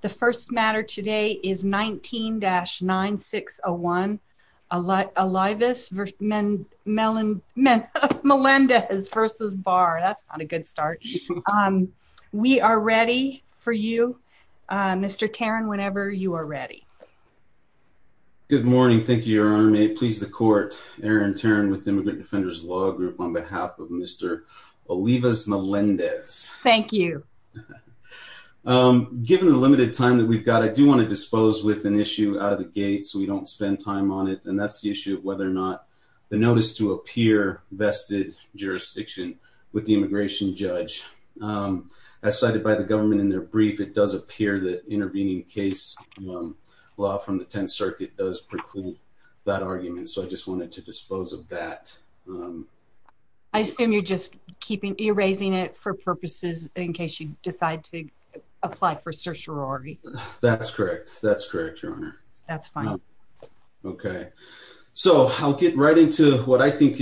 The first matter today is 19-9601, Olivas-Melendez v. Barr. That's not a good start. We are ready for you, Mr. Tarrin, whenever you are ready. Good morning. Thank you, Your Honor. May it please the Court, Aaron Tarrin with the Immigrant Defenders Law Group on behalf of Mr. Olivas-Melendez. Thank you. Given the limited time that we've got, I do want to dispose with an issue out of the gate so we don't spend time on it, and that's the issue of whether or not the notice to a peer-vested jurisdiction with the immigration judge. As cited by the government in their brief, it does appear that intervening case law from the Tenth Circuit does preclude that argument, so I just wanted to dispose of that. I assume you're just erasing it for purposes in case you decide to apply for certiorari. That's correct. That's correct, Your Honor. That's fine. Okay. So I'll get right into what I think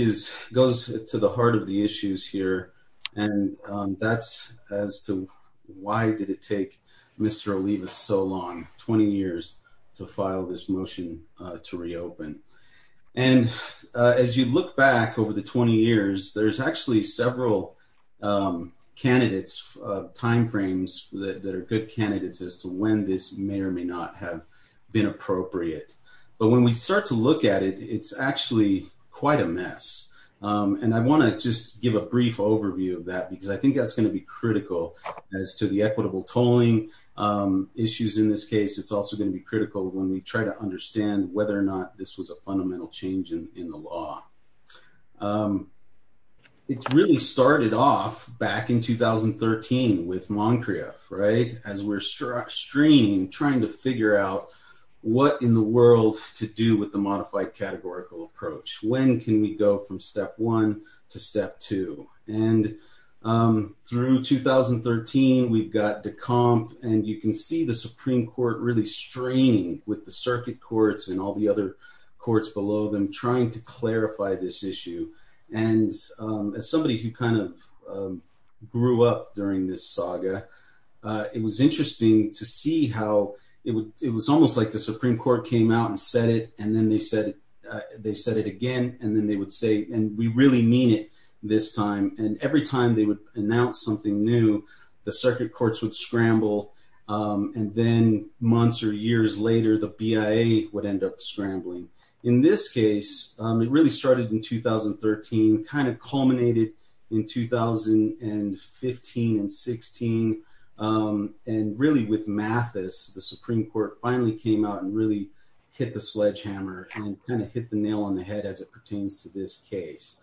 goes to the heart of the issues here, and that's as to why did it take Mr. Olivas so long, 20 years, to file this motion to reopen. And as you look back over the 20 years, there's actually several candidates, timeframes that are good candidates as to when this may or may not have been appropriate. But when we start to look at it, it's actually quite a mess, and I want to just give a brief overview of that because I think that's going to be critical as to the equitable tolling issues in this case. It's also going to be critical when we try to understand whether or not this was a fundamental change in the law. It really started off back in 2013 with Moncrieff, right, as we're straining, trying to figure out what in the world to do with the modified categorical approach. When can we go from step one to step two? And through 2013, we've got and you can see the Supreme Court really straining with the circuit courts and all the other courts below them trying to clarify this issue. And as somebody who kind of grew up during this saga, it was interesting to see how it was almost like the Supreme Court came out and said it, and then they said it again, and then they would say, and we really mean it this time. And every time they would announce something new, the circuit courts would scramble, and then months or years later, the BIA would end up scrambling. In this case, it really started in 2013, kind of culminated in 2015 and 16, and really with Mathis, the Supreme Court finally came out and really hit the sledgehammer and kind of hit the nail on the head as it pertains to this Council.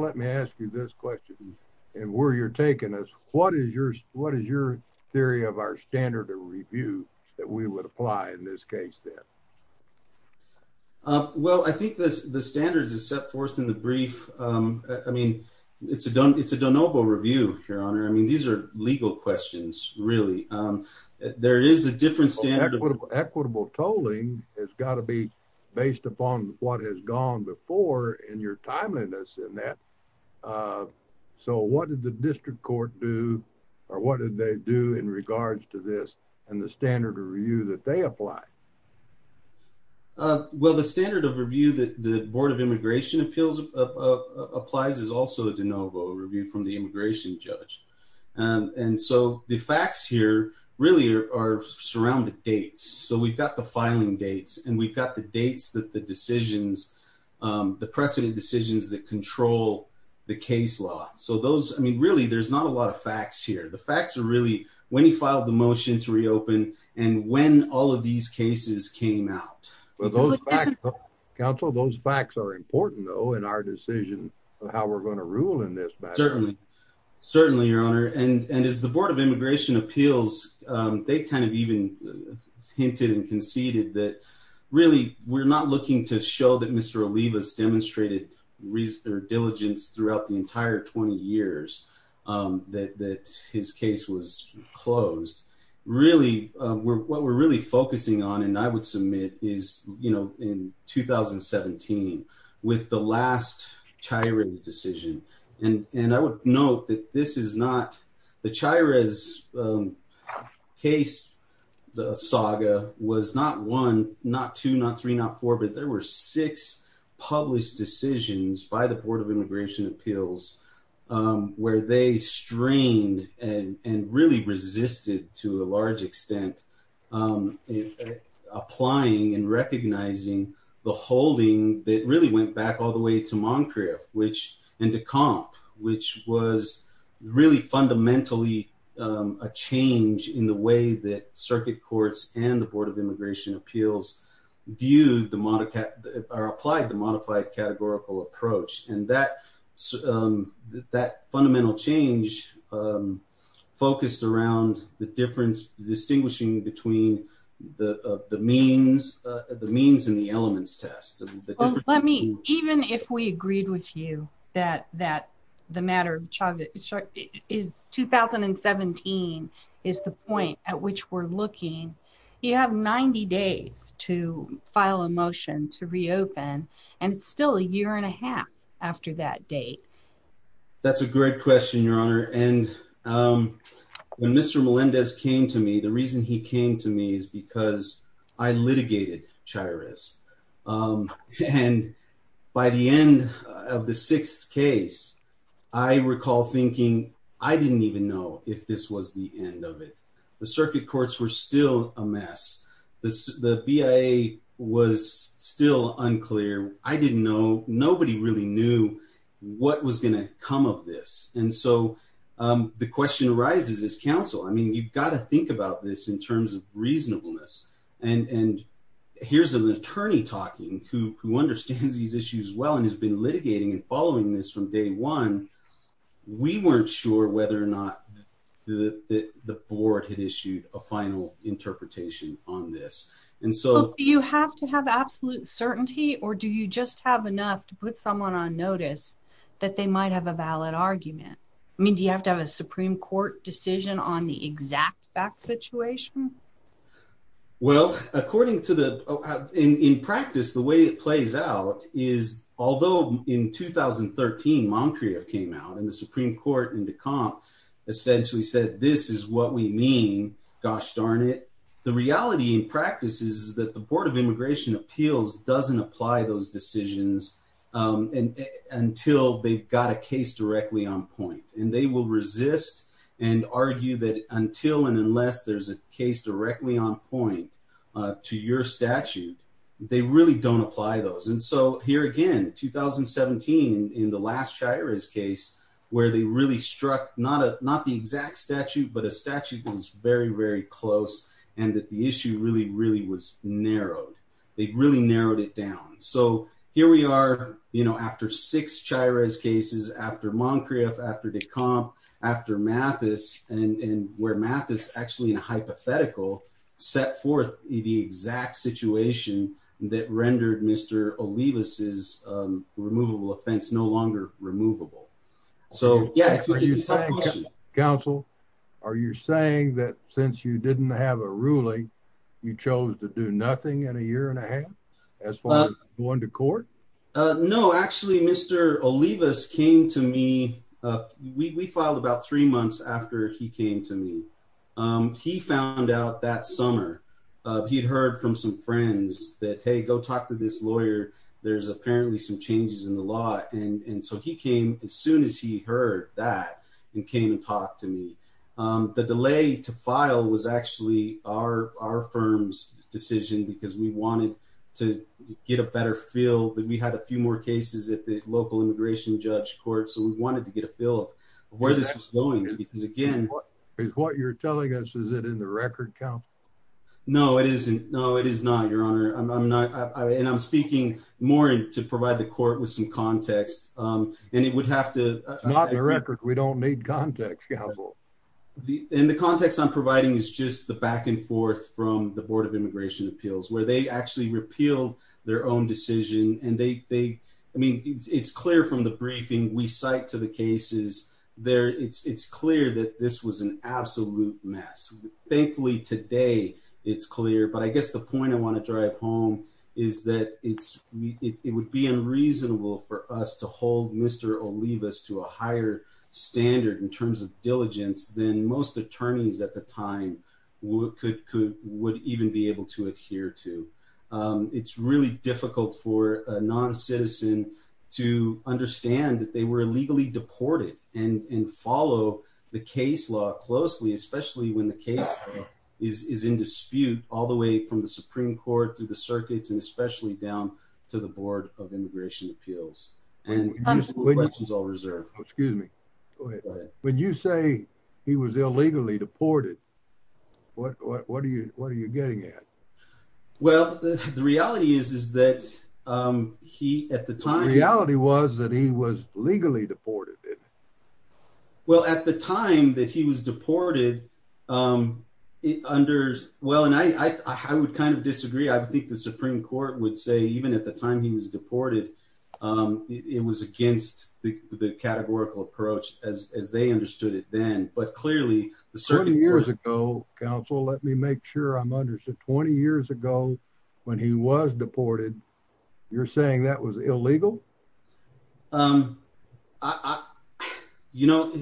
Let me ask you this question. And where you're taking us, what is your, what is your theory of our standard of review that we would apply in this case then? Well, I think the standards is set forth in the brief. I mean, it's a don't, it's a don't over review, Your Honor. I mean, these are legal questions, really. There is a different standard equitable tolling has got to be based upon what has gone before in your timeliness in that. So what did the district court do? Or what did they do in regards to this, and the standard of review that they apply? Well, the standard of review that the Board of Immigration Appeals applies is also a de novo review from the immigration judge. And so the facts here really are surrounded dates. So we've got the filing dates, and we've got the dates that the decisions, the precedent decisions that control the case law. So those, I mean, really, there's not a lot of facts here. The facts are really when he filed the motion to reopen and when all of these cases came out. But those facts, Council, those facts are important, though, in our decision of how we're going to rule in this matter. Certainly, Your Honor. And as the Board of Immigration Appeals, they kind of even hinted and conceded that really, we're not looking to show that Mr. Olivas demonstrated diligence throughout the entire 20 years that his case was closed. Really, what we're really focusing on, and I would submit, is in 2017 with the last this is not the Chires case, the saga was not one, not two, not three, not four, but there were six published decisions by the Board of Immigration Appeals, where they strained and really resisted to a large extent, applying and recognizing the holding that really went back all the way to really fundamentally a change in the way that Circuit Courts and the Board of Immigration Appeals viewed the, or applied the modified categorical approach. And that fundamental change focused around the difference, distinguishing between the means and the 2017 is the point at which we're looking. You have 90 days to file a motion to reopen, and it's still a year and a half after that date. That's a great question, Your Honor. And when Mr. Melendez came to me, the reason he came to me is because I litigated Chires. And by the end of the sixth case, I recall thinking, I didn't even know if this was the end of it. The Circuit Courts were still a mess. The BIA was still unclear. I didn't know, nobody really knew what was going to come of this. And so the question arises as counsel, I mean, you've got to think about this in terms of reasonableness. And here's an attorney talking who understands these issues well, and has been litigating and following this from day one. We weren't sure whether or not the Board had issued a final interpretation on this. And so- Do you have to have absolute certainty, or do you just have enough to put someone on notice that they might have a valid argument? I mean, do you have to have a Supreme Court decision on the way it plays out? Although in 2013, Moncrieff came out and the Supreme Court into comp essentially said, this is what we mean, gosh darn it. The reality in practice is that the Board of Immigration Appeals doesn't apply those decisions until they've got a case directly on point. And they will resist and argue that until and unless there's a case directly on point to your statute, they really don't apply those. And so here again, 2017, in the last Chires case, where they really struck not the exact statute, but a statute that was very, very close, and that the issue really, really was narrowed. They really narrowed it down. So here we are, after six Chires cases, after Moncrieff, after Decomp, after Mathis, and where Mathis actually in a hypothetical set forth the exact situation that rendered Mr. Olivas's removable offense no longer removable. Counsel, are you saying that since you didn't have a ruling, you chose to do nothing in a year and a half as far as going to court? No, actually, Mr. Olivas came to me. We filed about three months after he came to me. He found out that summer, he'd heard from some friends that, hey, go talk to this lawyer. There's apparently some changes in the law. And so he came as soon as he heard that and came and talked to me. The delay to file was actually our firm's decision, because we wanted to get a better feel that we had a few more cases at the local immigration judge court. So we wanted to get a feel of where this was going, because again... Is what you're telling us, is it in the record, Counsel? No, it isn't. No, it is not, Your Honor. And I'm speaking more to provide the court with some context. And it would have to... It's not in the record. We don't need context, Counsel. And the context I'm providing is just the back and forth from the Board of Immigration Appeals, where they actually repealed their own decision. And they... I mean, it's clear from the briefing we cite to the cases there. It's clear that this was an absolute mess. Thankfully, today, it's clear. But I guess the point I want to drive home is that it would be unreasonable for us to hold Mr. Olivas to a higher standard in terms of diligence than most attorneys at the time would even be able to adhere to. It's really difficult for a non-citizen to understand that they were illegally deported and follow the case law closely, especially when the case is in dispute all the way from the Supreme Court to the circuits, and especially down to the Board of Immigration Appeals. And this is all reserved. Excuse me. When you say he was illegally deported, what are you getting at? Well, the reality is that he, at the time... The reality was that he was legally deported. Well, at the time that he was deported, it under... Well, and I would kind of disagree. I would think the Supreme Court would say even at the time he was deported, it was against the categorical approach as they understood it then. But clearly, the circuit board... 20 years ago, counsel, let me make sure I'm understood. 20 years ago when he was deported, you're saying that was illegal? You know,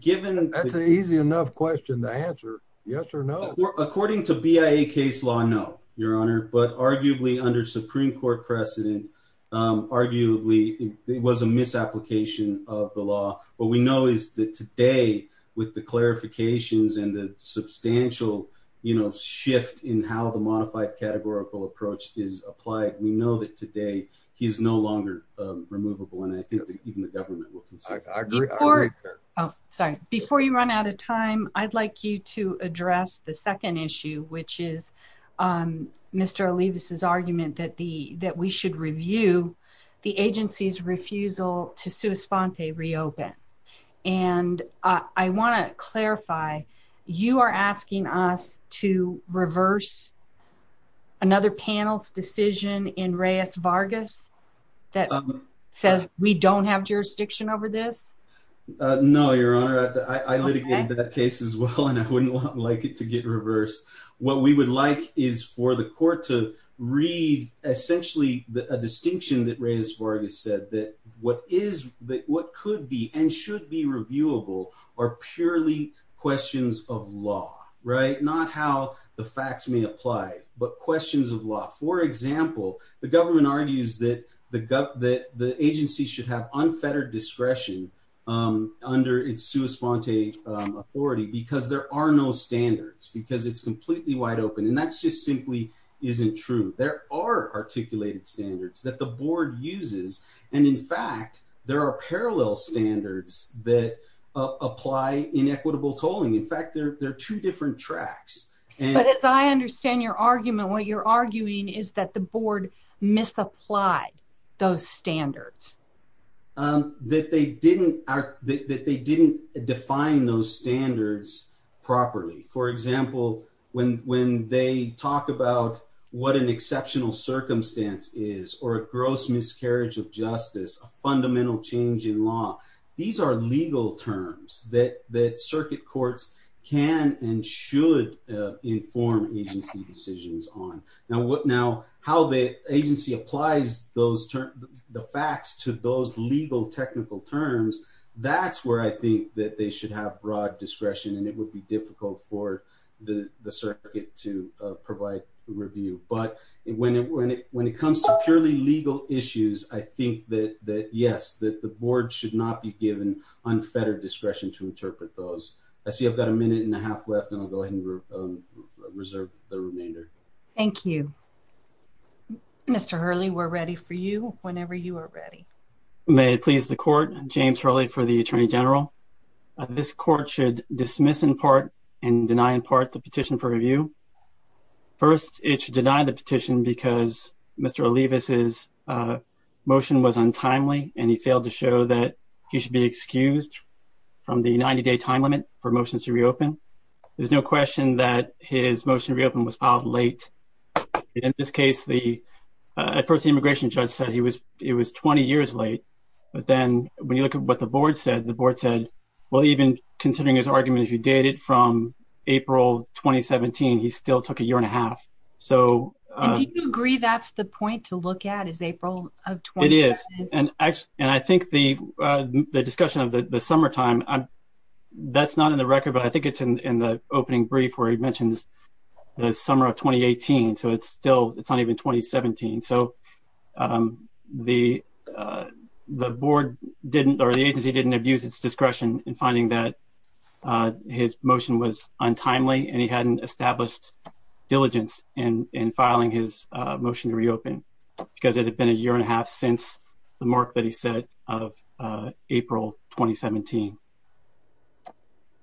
given... That's an easy enough question to answer, yes or no. According to BIA case law, no, but arguably under Supreme Court precedent, arguably it was a misapplication of the law. What we know is that today with the clarifications and the substantial shift in how the modified categorical approach is applied, we know that today he's no longer removable. And I think that even the government will consider it. I agree. Oh, sorry. Before you run out of time, I'd like you to address the second issue, which is Mr. Olivas' argument that we should review the agency's refusal to sua sponte reopen. And I want to clarify, you are asking us to reverse another panel's decision in Reyes-Vargas that says we don't have jurisdiction over this? No, Your Honor. I litigated that case as well, and I wouldn't like it to get reversed. What we would like is for the court to read essentially a distinction that Reyes-Vargas said, that what could be and should be reviewable are purely questions of law, right? Not how the facts may apply, but questions of law. For example, the government argues that the agency should have unfettered discretion under its sua sponte authority because there are no standards, because it's completely wide open. And that just simply isn't true. There are articulated standards that the board uses. And in fact, there are parallel standards that apply in equitable tolling. In fact, they're two different tracks. But as I understand your argument, what you're arguing is that the board misapplied those standards. That they didn't define those standards properly. For example, when they talk about what an exceptional circumstance is or a gross miscarriage of justice, a fundamental change in law, these are legal terms that circuit courts can and should inform agency decisions on. Now, how the agency applies the facts to those legal technical terms, that's where I think that they should have broad discretion and it would be difficult for the circuit to provide review. But when it comes to purely legal issues, I think that yes, that the board should not be given unfettered discretion to interpret those. I see I've got a minute and a half left, and I'll go ahead and reserve the remainder. Thank you. Mr. Hurley, we're ready for you whenever you are ready. May it please the court, James Hurley for the Attorney General. This court should dismiss in part and deny in part the petition for review. First, it should deny the petition because Mr. Olivas' motion was untimely and he failed to show that he should be excused from the 90-day time limit for motions to reopen. There's no question that his motion to reopen was filed late. In this case, at first, the immigration judge said it was 20 years late. But then when you look at what the board said, the board said, well, even considering his argument, if you date it from April 2017, he still took a year and a half. And do you agree that's the point to look at is April of 2017? It is. And I think the discussion of the summertime, that's not in the record, but I think it's in the opening brief where he mentions the summer of 2018. So it's still, it's not even 2017. So the agency didn't abuse its discretion in finding that his motion was untimely and he hadn't established diligence in filing his motion to reopen because it had been a year and a half since the mark that he set of April 2017.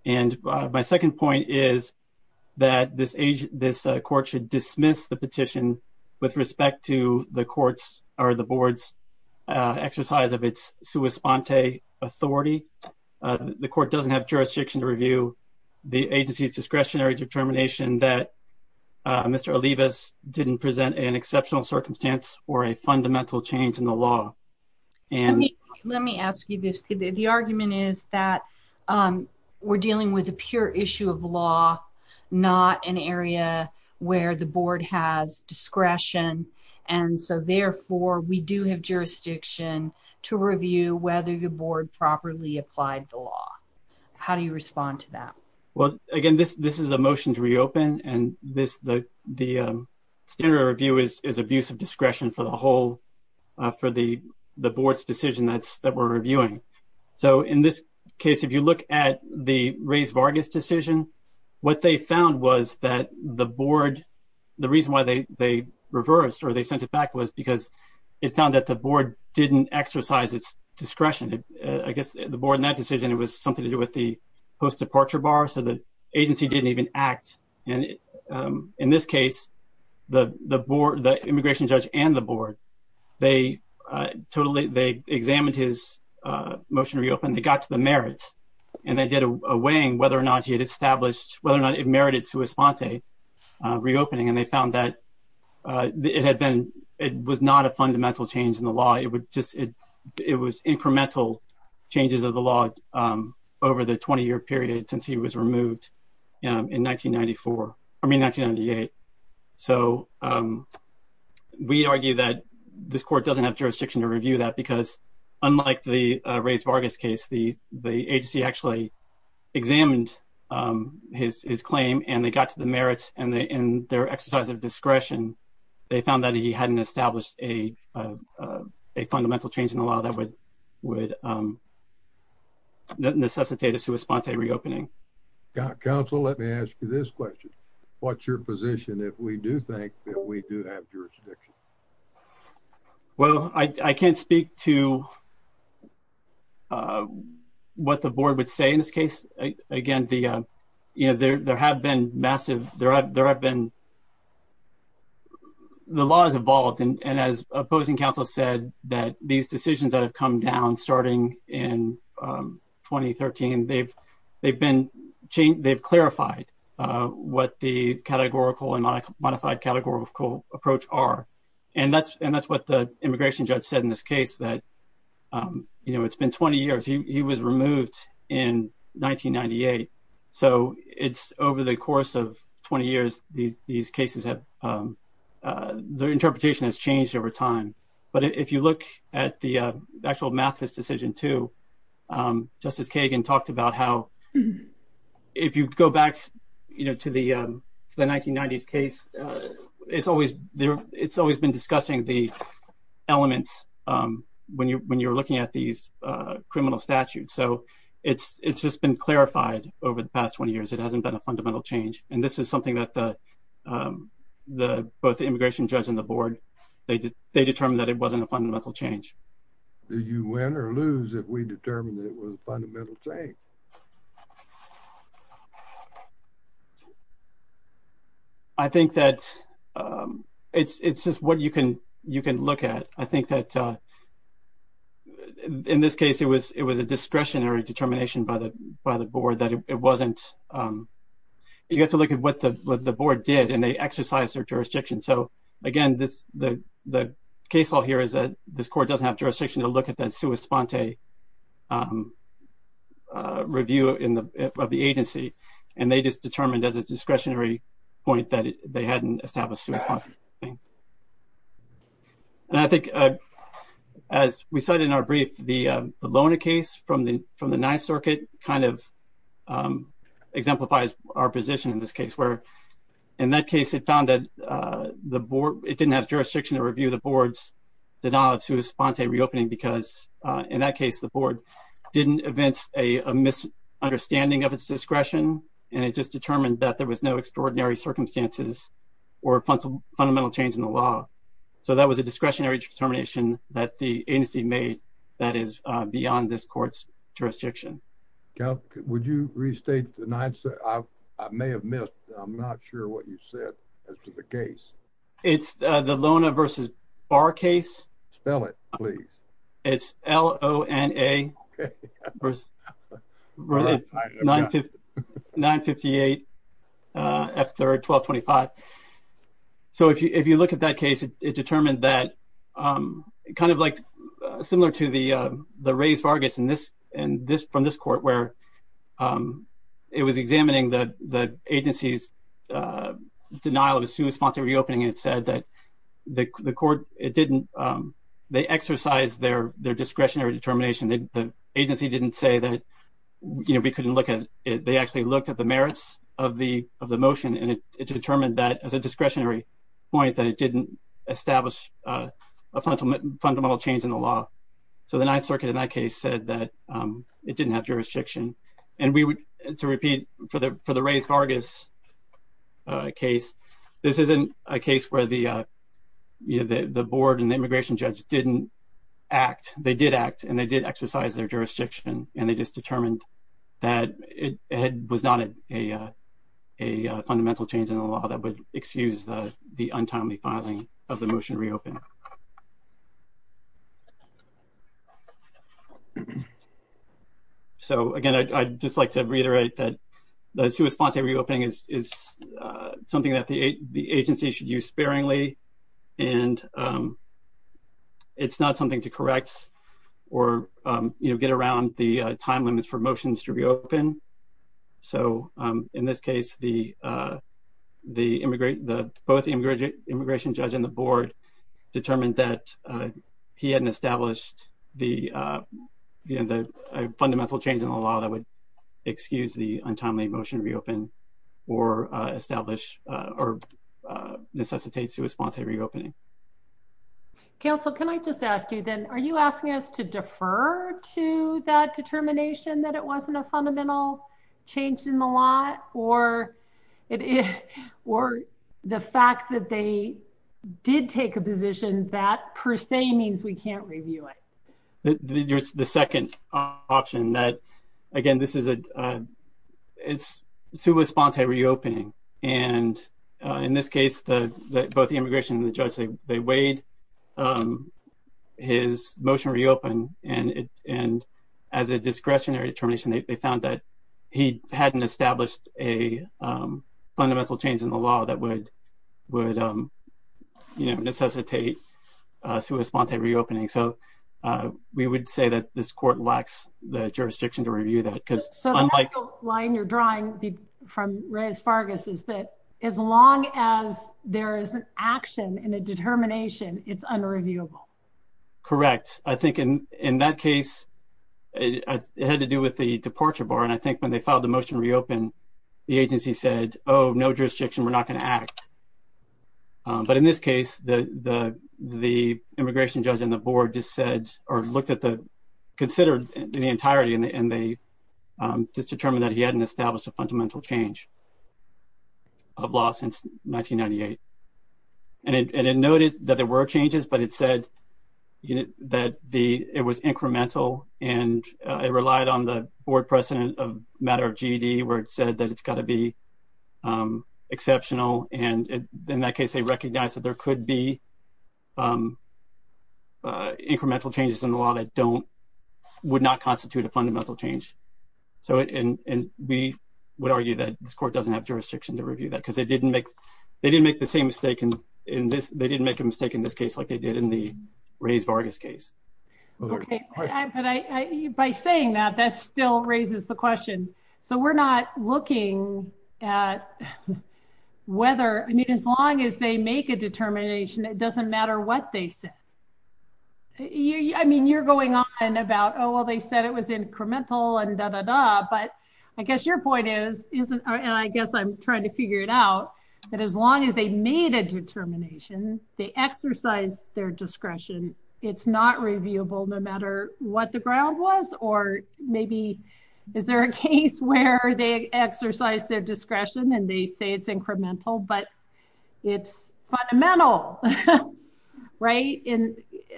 And my second point is that this age, this court should dismiss the petition with respect to the court's or the board's exercise of its sua sponte authority. The court doesn't have jurisdiction to review the agency's discretionary determination that Mr. Olivas didn't present an exceptional circumstance or a fundamental change in the law. And let me ask you this. The argument is that we're dealing with a pure issue of law, not an area where the board has discretion. And so therefore we do have jurisdiction to review whether the board properly applied the law. How do you respond to that? Well, again, this is a motion to reopen and the standard review is abuse of discretion for the whole, for the board's decision that we're reviewing. So in this case, if you look at the Ray's Vargas decision, what they found was that the board, the reason why they reversed or they sent it back was because it found that the board didn't exercise its discretion. I guess the board in that decision, it was something to do with the post departure bar. So the agency didn't even act. And in this case, the board, the immigration judge and the board, they totally, they examined his motion to reopen. They got to the merit and they did a weighing whether or not he had established whether or not it merited sua sponte reopening. And they found that it had been, it was not a law over the 20 year period since he was removed in 1994, I mean, 1998. So we argue that this court doesn't have jurisdiction to review that because unlike the Ray's Vargas case, the agency actually examined his claim and they got to the merits and they, in their exercise of discretion, they found that he hadn't established a fundamental change in the law that would necessitate a sua sponte reopening. Council, let me ask you this question. What's your position if we do think that we do have jurisdiction? Well, I can't speak to what the board would say in this case. Again, there have been massive, there have been the laws evolved. And as opposing counsel said that these decisions that have come down starting in 2013, they've, they've been changed. They've clarified what the categorical and modified categorical approach are. And that's, and that's what the immigration judge said in this case that, you know, it's been 20 years, he was removed in 1998. So it's over the course of 20 years, these cases have, their interpretation has changed over time. But if you look at the actual Mathis decision too, Justice Kagan talked about how if you go back, you know, to the 1990s case, it's always there. It's always been discussing the elements when you're looking at these criminal statutes. So it's just been clarified over the past 20 years. It hasn't been a fundamental change. And this is something that the, both the immigration judge and the board, they determined that it wasn't a fundamental change. Did you win or lose if we determined it was a fundamental change? I think that it's just what you can look at. I think that in this case, it was a discretionary determination by the board that it wasn't you have to look at what the board did and they exercise their jurisdiction. So again, this, the case law here is that this court doesn't have jurisdiction to look at that review in the, of the agency. And they just determined as a discretionary point that they hadn't established. And I think as we started in our brief, the Lona case from the, from the opposition in this case, where in that case, it found that the board, it didn't have jurisdiction to review the board's denial of sui sponte reopening, because in that case, the board didn't advance a misunderstanding of its discretion. And it just determined that there was no extraordinary circumstances or fundamental change in the law. So that was a discretionary determination that the agency made that is beyond this court's jurisdiction. Yeah, would you restate the nine? So I may have missed, I'm not sure what you said. As to the case, it's the Lona versus bar case. Spell it, please. It's l o n a. 958. After 1225. So if you if you look at that case, it determined that kind of like, similar to the, the race Vargas in this, and this from this court where it was examining the the agency's denial of sui sponte reopening, it said that the court, it didn't, they exercise their their discretionary determination that the agency didn't say that, you know, we couldn't look at it, they actually looked at the merits of the of the motion, and it determined that as a discretionary point that it didn't establish a fundamental fundamental change in the law. So the Ninth Circuit in that case said that it didn't have jurisdiction. And we would to repeat for the for the race Vargas case, this isn't a case where the the board and immigration judge didn't act, they did act and they did exercise their jurisdiction. And they just determined that it was not a a fundamental change in the law that would excuse the the untimely filing of the motion reopen. So again, I'd just like to reiterate that the sui sponte reopening is something that the agency should use sparingly. And it's not something to correct, or, you know, get around the time limits for motions to reopen. So in this case, the the immigrant, the both immigrant immigration judge and the board determined that he hadn't established the the fundamental change in the law that would excuse the untimely motion reopen, or establish or necessitate sui sponte reopening. Council, can I just ask you then, are you asking us to defer to that determination that it wasn't a fundamental change in the law or it is or the fact that they did take a position that per se means we can't review it. There's the second option that, again, this is a it's sui sponte reopening. And in this case, the both the immigration and the judge, they weighed his motion reopen and and as a discretionary determination, they found that he hadn't established a fundamental change in the law that would would, you know, necessitate sui sponte reopening. So we would say that this court lacks the jurisdiction to review that because line you're drawing from Reyes-Fargus is that as long as there is an action in a determination, it's unreviewable. Correct. I think in in that case, it had to do with the departure bar. And I think when they filed the motion reopen, the agency said, Oh, no jurisdiction, we're not going to act. But in this case, the the the immigration judge and the board just said, or looked at the considered the entirety and they just determined that he hadn't established a fundamental change of law since 1998. And it noted that there were changes, but it said that the it was incremental, and it relied on the board precedent of matter of GED, where it said that it's got to be exceptional. And in that case, they recognize that there could be would not constitute a fundamental change. So and we would argue that this court doesn't have jurisdiction to review that because they didn't make they didn't make the same mistake. And in this, they didn't make a mistake in this case, like they did in the Reyes-Fargus case. But I by saying that that still raises the question. So we're not looking at whether I mean, as long as they make a determination, it doesn't matter what they said. I mean, you're going on about, oh, well, they said it was incremental and da da da. But I guess your point is, isn't I guess I'm trying to figure it out. But as long as they made a determination, they exercise their discretion. It's not reviewable, no matter what the ground was, or maybe, is there a case where they exercise their discretion, and they say it's incremental, but it's fundamental. Right. And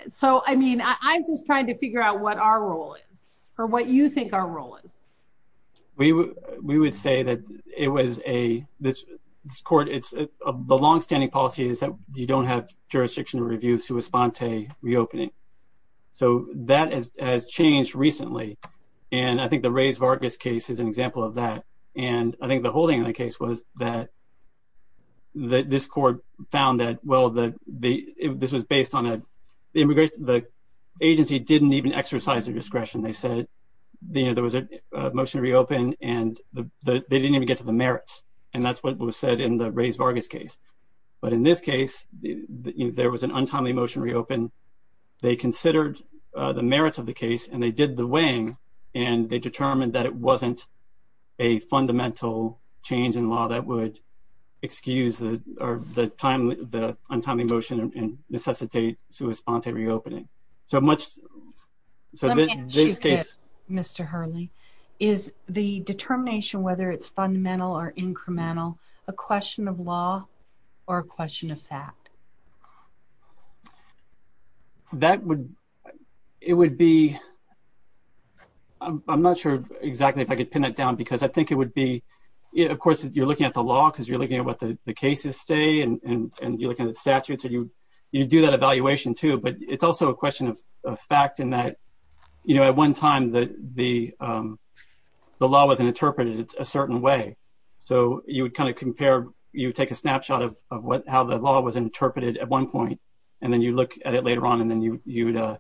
so I mean, I'm just trying to figure out what our role is, or what you think our role is. We would we would say that it was a this court, it's a longstanding policy is that you don't have jurisdiction to review sua sponte reopening. So that is has changed recently. And I think the Reyes-Fargus case is an example of that. And I think the case was that this court found that well, that the this was based on the immigration, the agency didn't even exercise their discretion, they said, there was a motion to reopen, and they didn't even get to the merits. And that's what was said in the Reyes-Fargus case. But in this case, there was an untimely motion to reopen, they considered the merits of the case, and they did the weighing, and they determined that it wasn't a fundamental change in law that would excuse the or the time the untimely motion and necessitate sua sponte reopening. So much. Mr. Hurley, is the determination whether it's fundamental or incremental, a question of law, or a question of fact? That would, it would be, I'm not sure exactly if I could pin it down, because I think it would be, of course, you're looking at the law, because you're looking at what the cases stay and you're looking at statutes, and you do that evaluation, too. But it's also a question of fact in that, you know, at one time, the law was interpreted a certain way. So you would kind of compare, you take a snapshot of what how the law was interpreted at one point, and then you look at it later on. And then you you'd,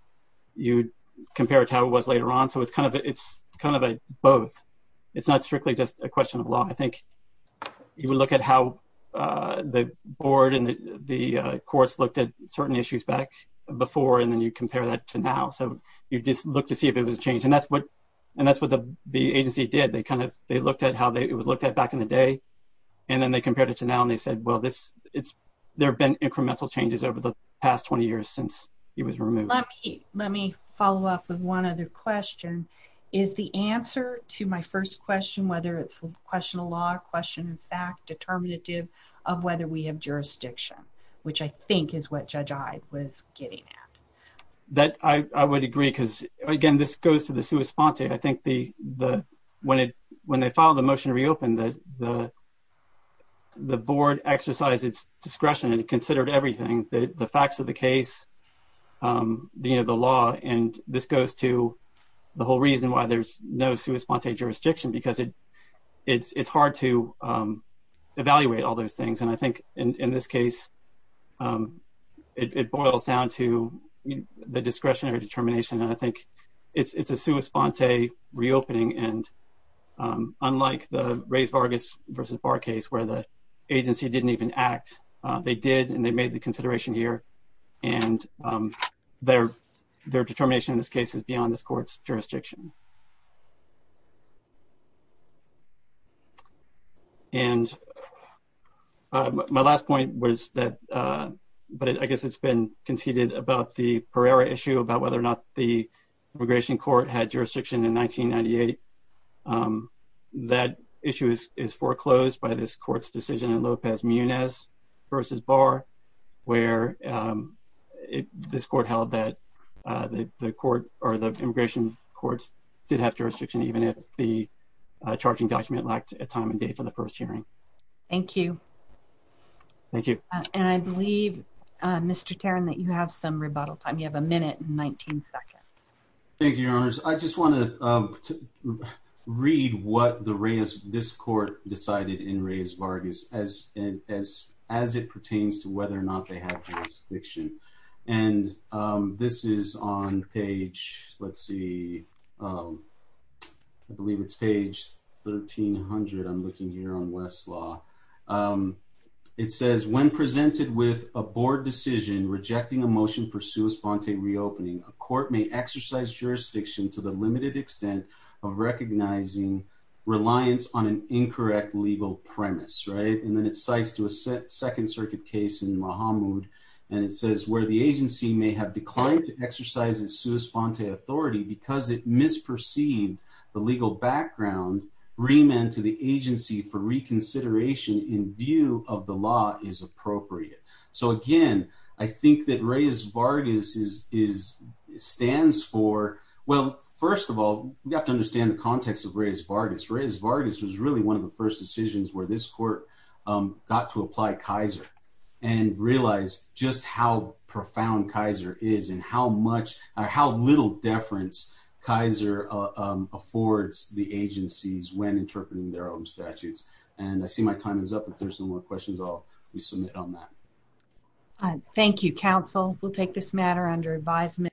you'd compare it to how it was later on. So it's kind of it's kind of a both. It's not strictly just a question of law. I think you would look at how the board and the courts looked at certain issues back before and then you compare that to now. So you just look to see if it was changed. And that's what and that's what the agency did. They kind And then they compared it to now and they said, well, this it's, there have been incremental changes over the past 20 years since it was removed. Let me let me follow up with one other question. Is the answer to my first question, whether it's a question of law, question of fact, determinative of whether we have jurisdiction, which I think is what Judge I was getting at. That I would agree, because again, this goes to the sua sponte. I think the the when it when they filed the motion to reopen that the the board exercise its discretion and it considered everything that the facts of the case, the law, and this goes to the whole reason why there's no sua sponte jurisdiction, because it's hard to evaluate all those things. And I think in this case, it boils down to the discretionary determination. And I think it's a sua sponte reopening and unlike the race Vargas versus bar case where the agency didn't even act. They did, and they made the consideration here and their, their determination in this case is beyond this court's jurisdiction. And my last point was that, but I guess it's been conceded about the in 1998. That issue is is foreclosed by this court's decision and Lopez Muniz versus bar, where this court held that the court or the immigration courts did have jurisdiction, even if the charging document lacked a time and date for the first hearing. Thank you. Thank you. And I believe, Mr. Karen, that you have some rebuttal time. You have a to read what the race this court decided in raise Vargas as and as, as it pertains to whether or not they have jurisdiction. And this is on page, let's see. I believe it's page 1300. I'm looking here on Westlaw. It says when presented with a board decision rejecting a motion for sua sponte reopening, a court may exercise jurisdiction to the limited extent of recognizing reliance on an incorrect legal premise, right? And then it cites to a set second circuit case in Mahmoud. And it says where the agency may have declined to exercise as sua sponte authority because it misperceived the legal background remand to the agency for reconsideration in view of the law is appropriate. So again, I think that raise Vargas is is stands for, well, first of all, we have to understand the context of raise Vargas raise Vargas was really one of the first decisions where this court got to apply Kaiser and realize just how profound Kaiser is and how much or how little deference Kaiser affords the agencies when interpreting their own statutes. And I see my time is up. If there's no more questions, I'll resubmit on that. Thank you, counsel. We'll take this matter under advisement.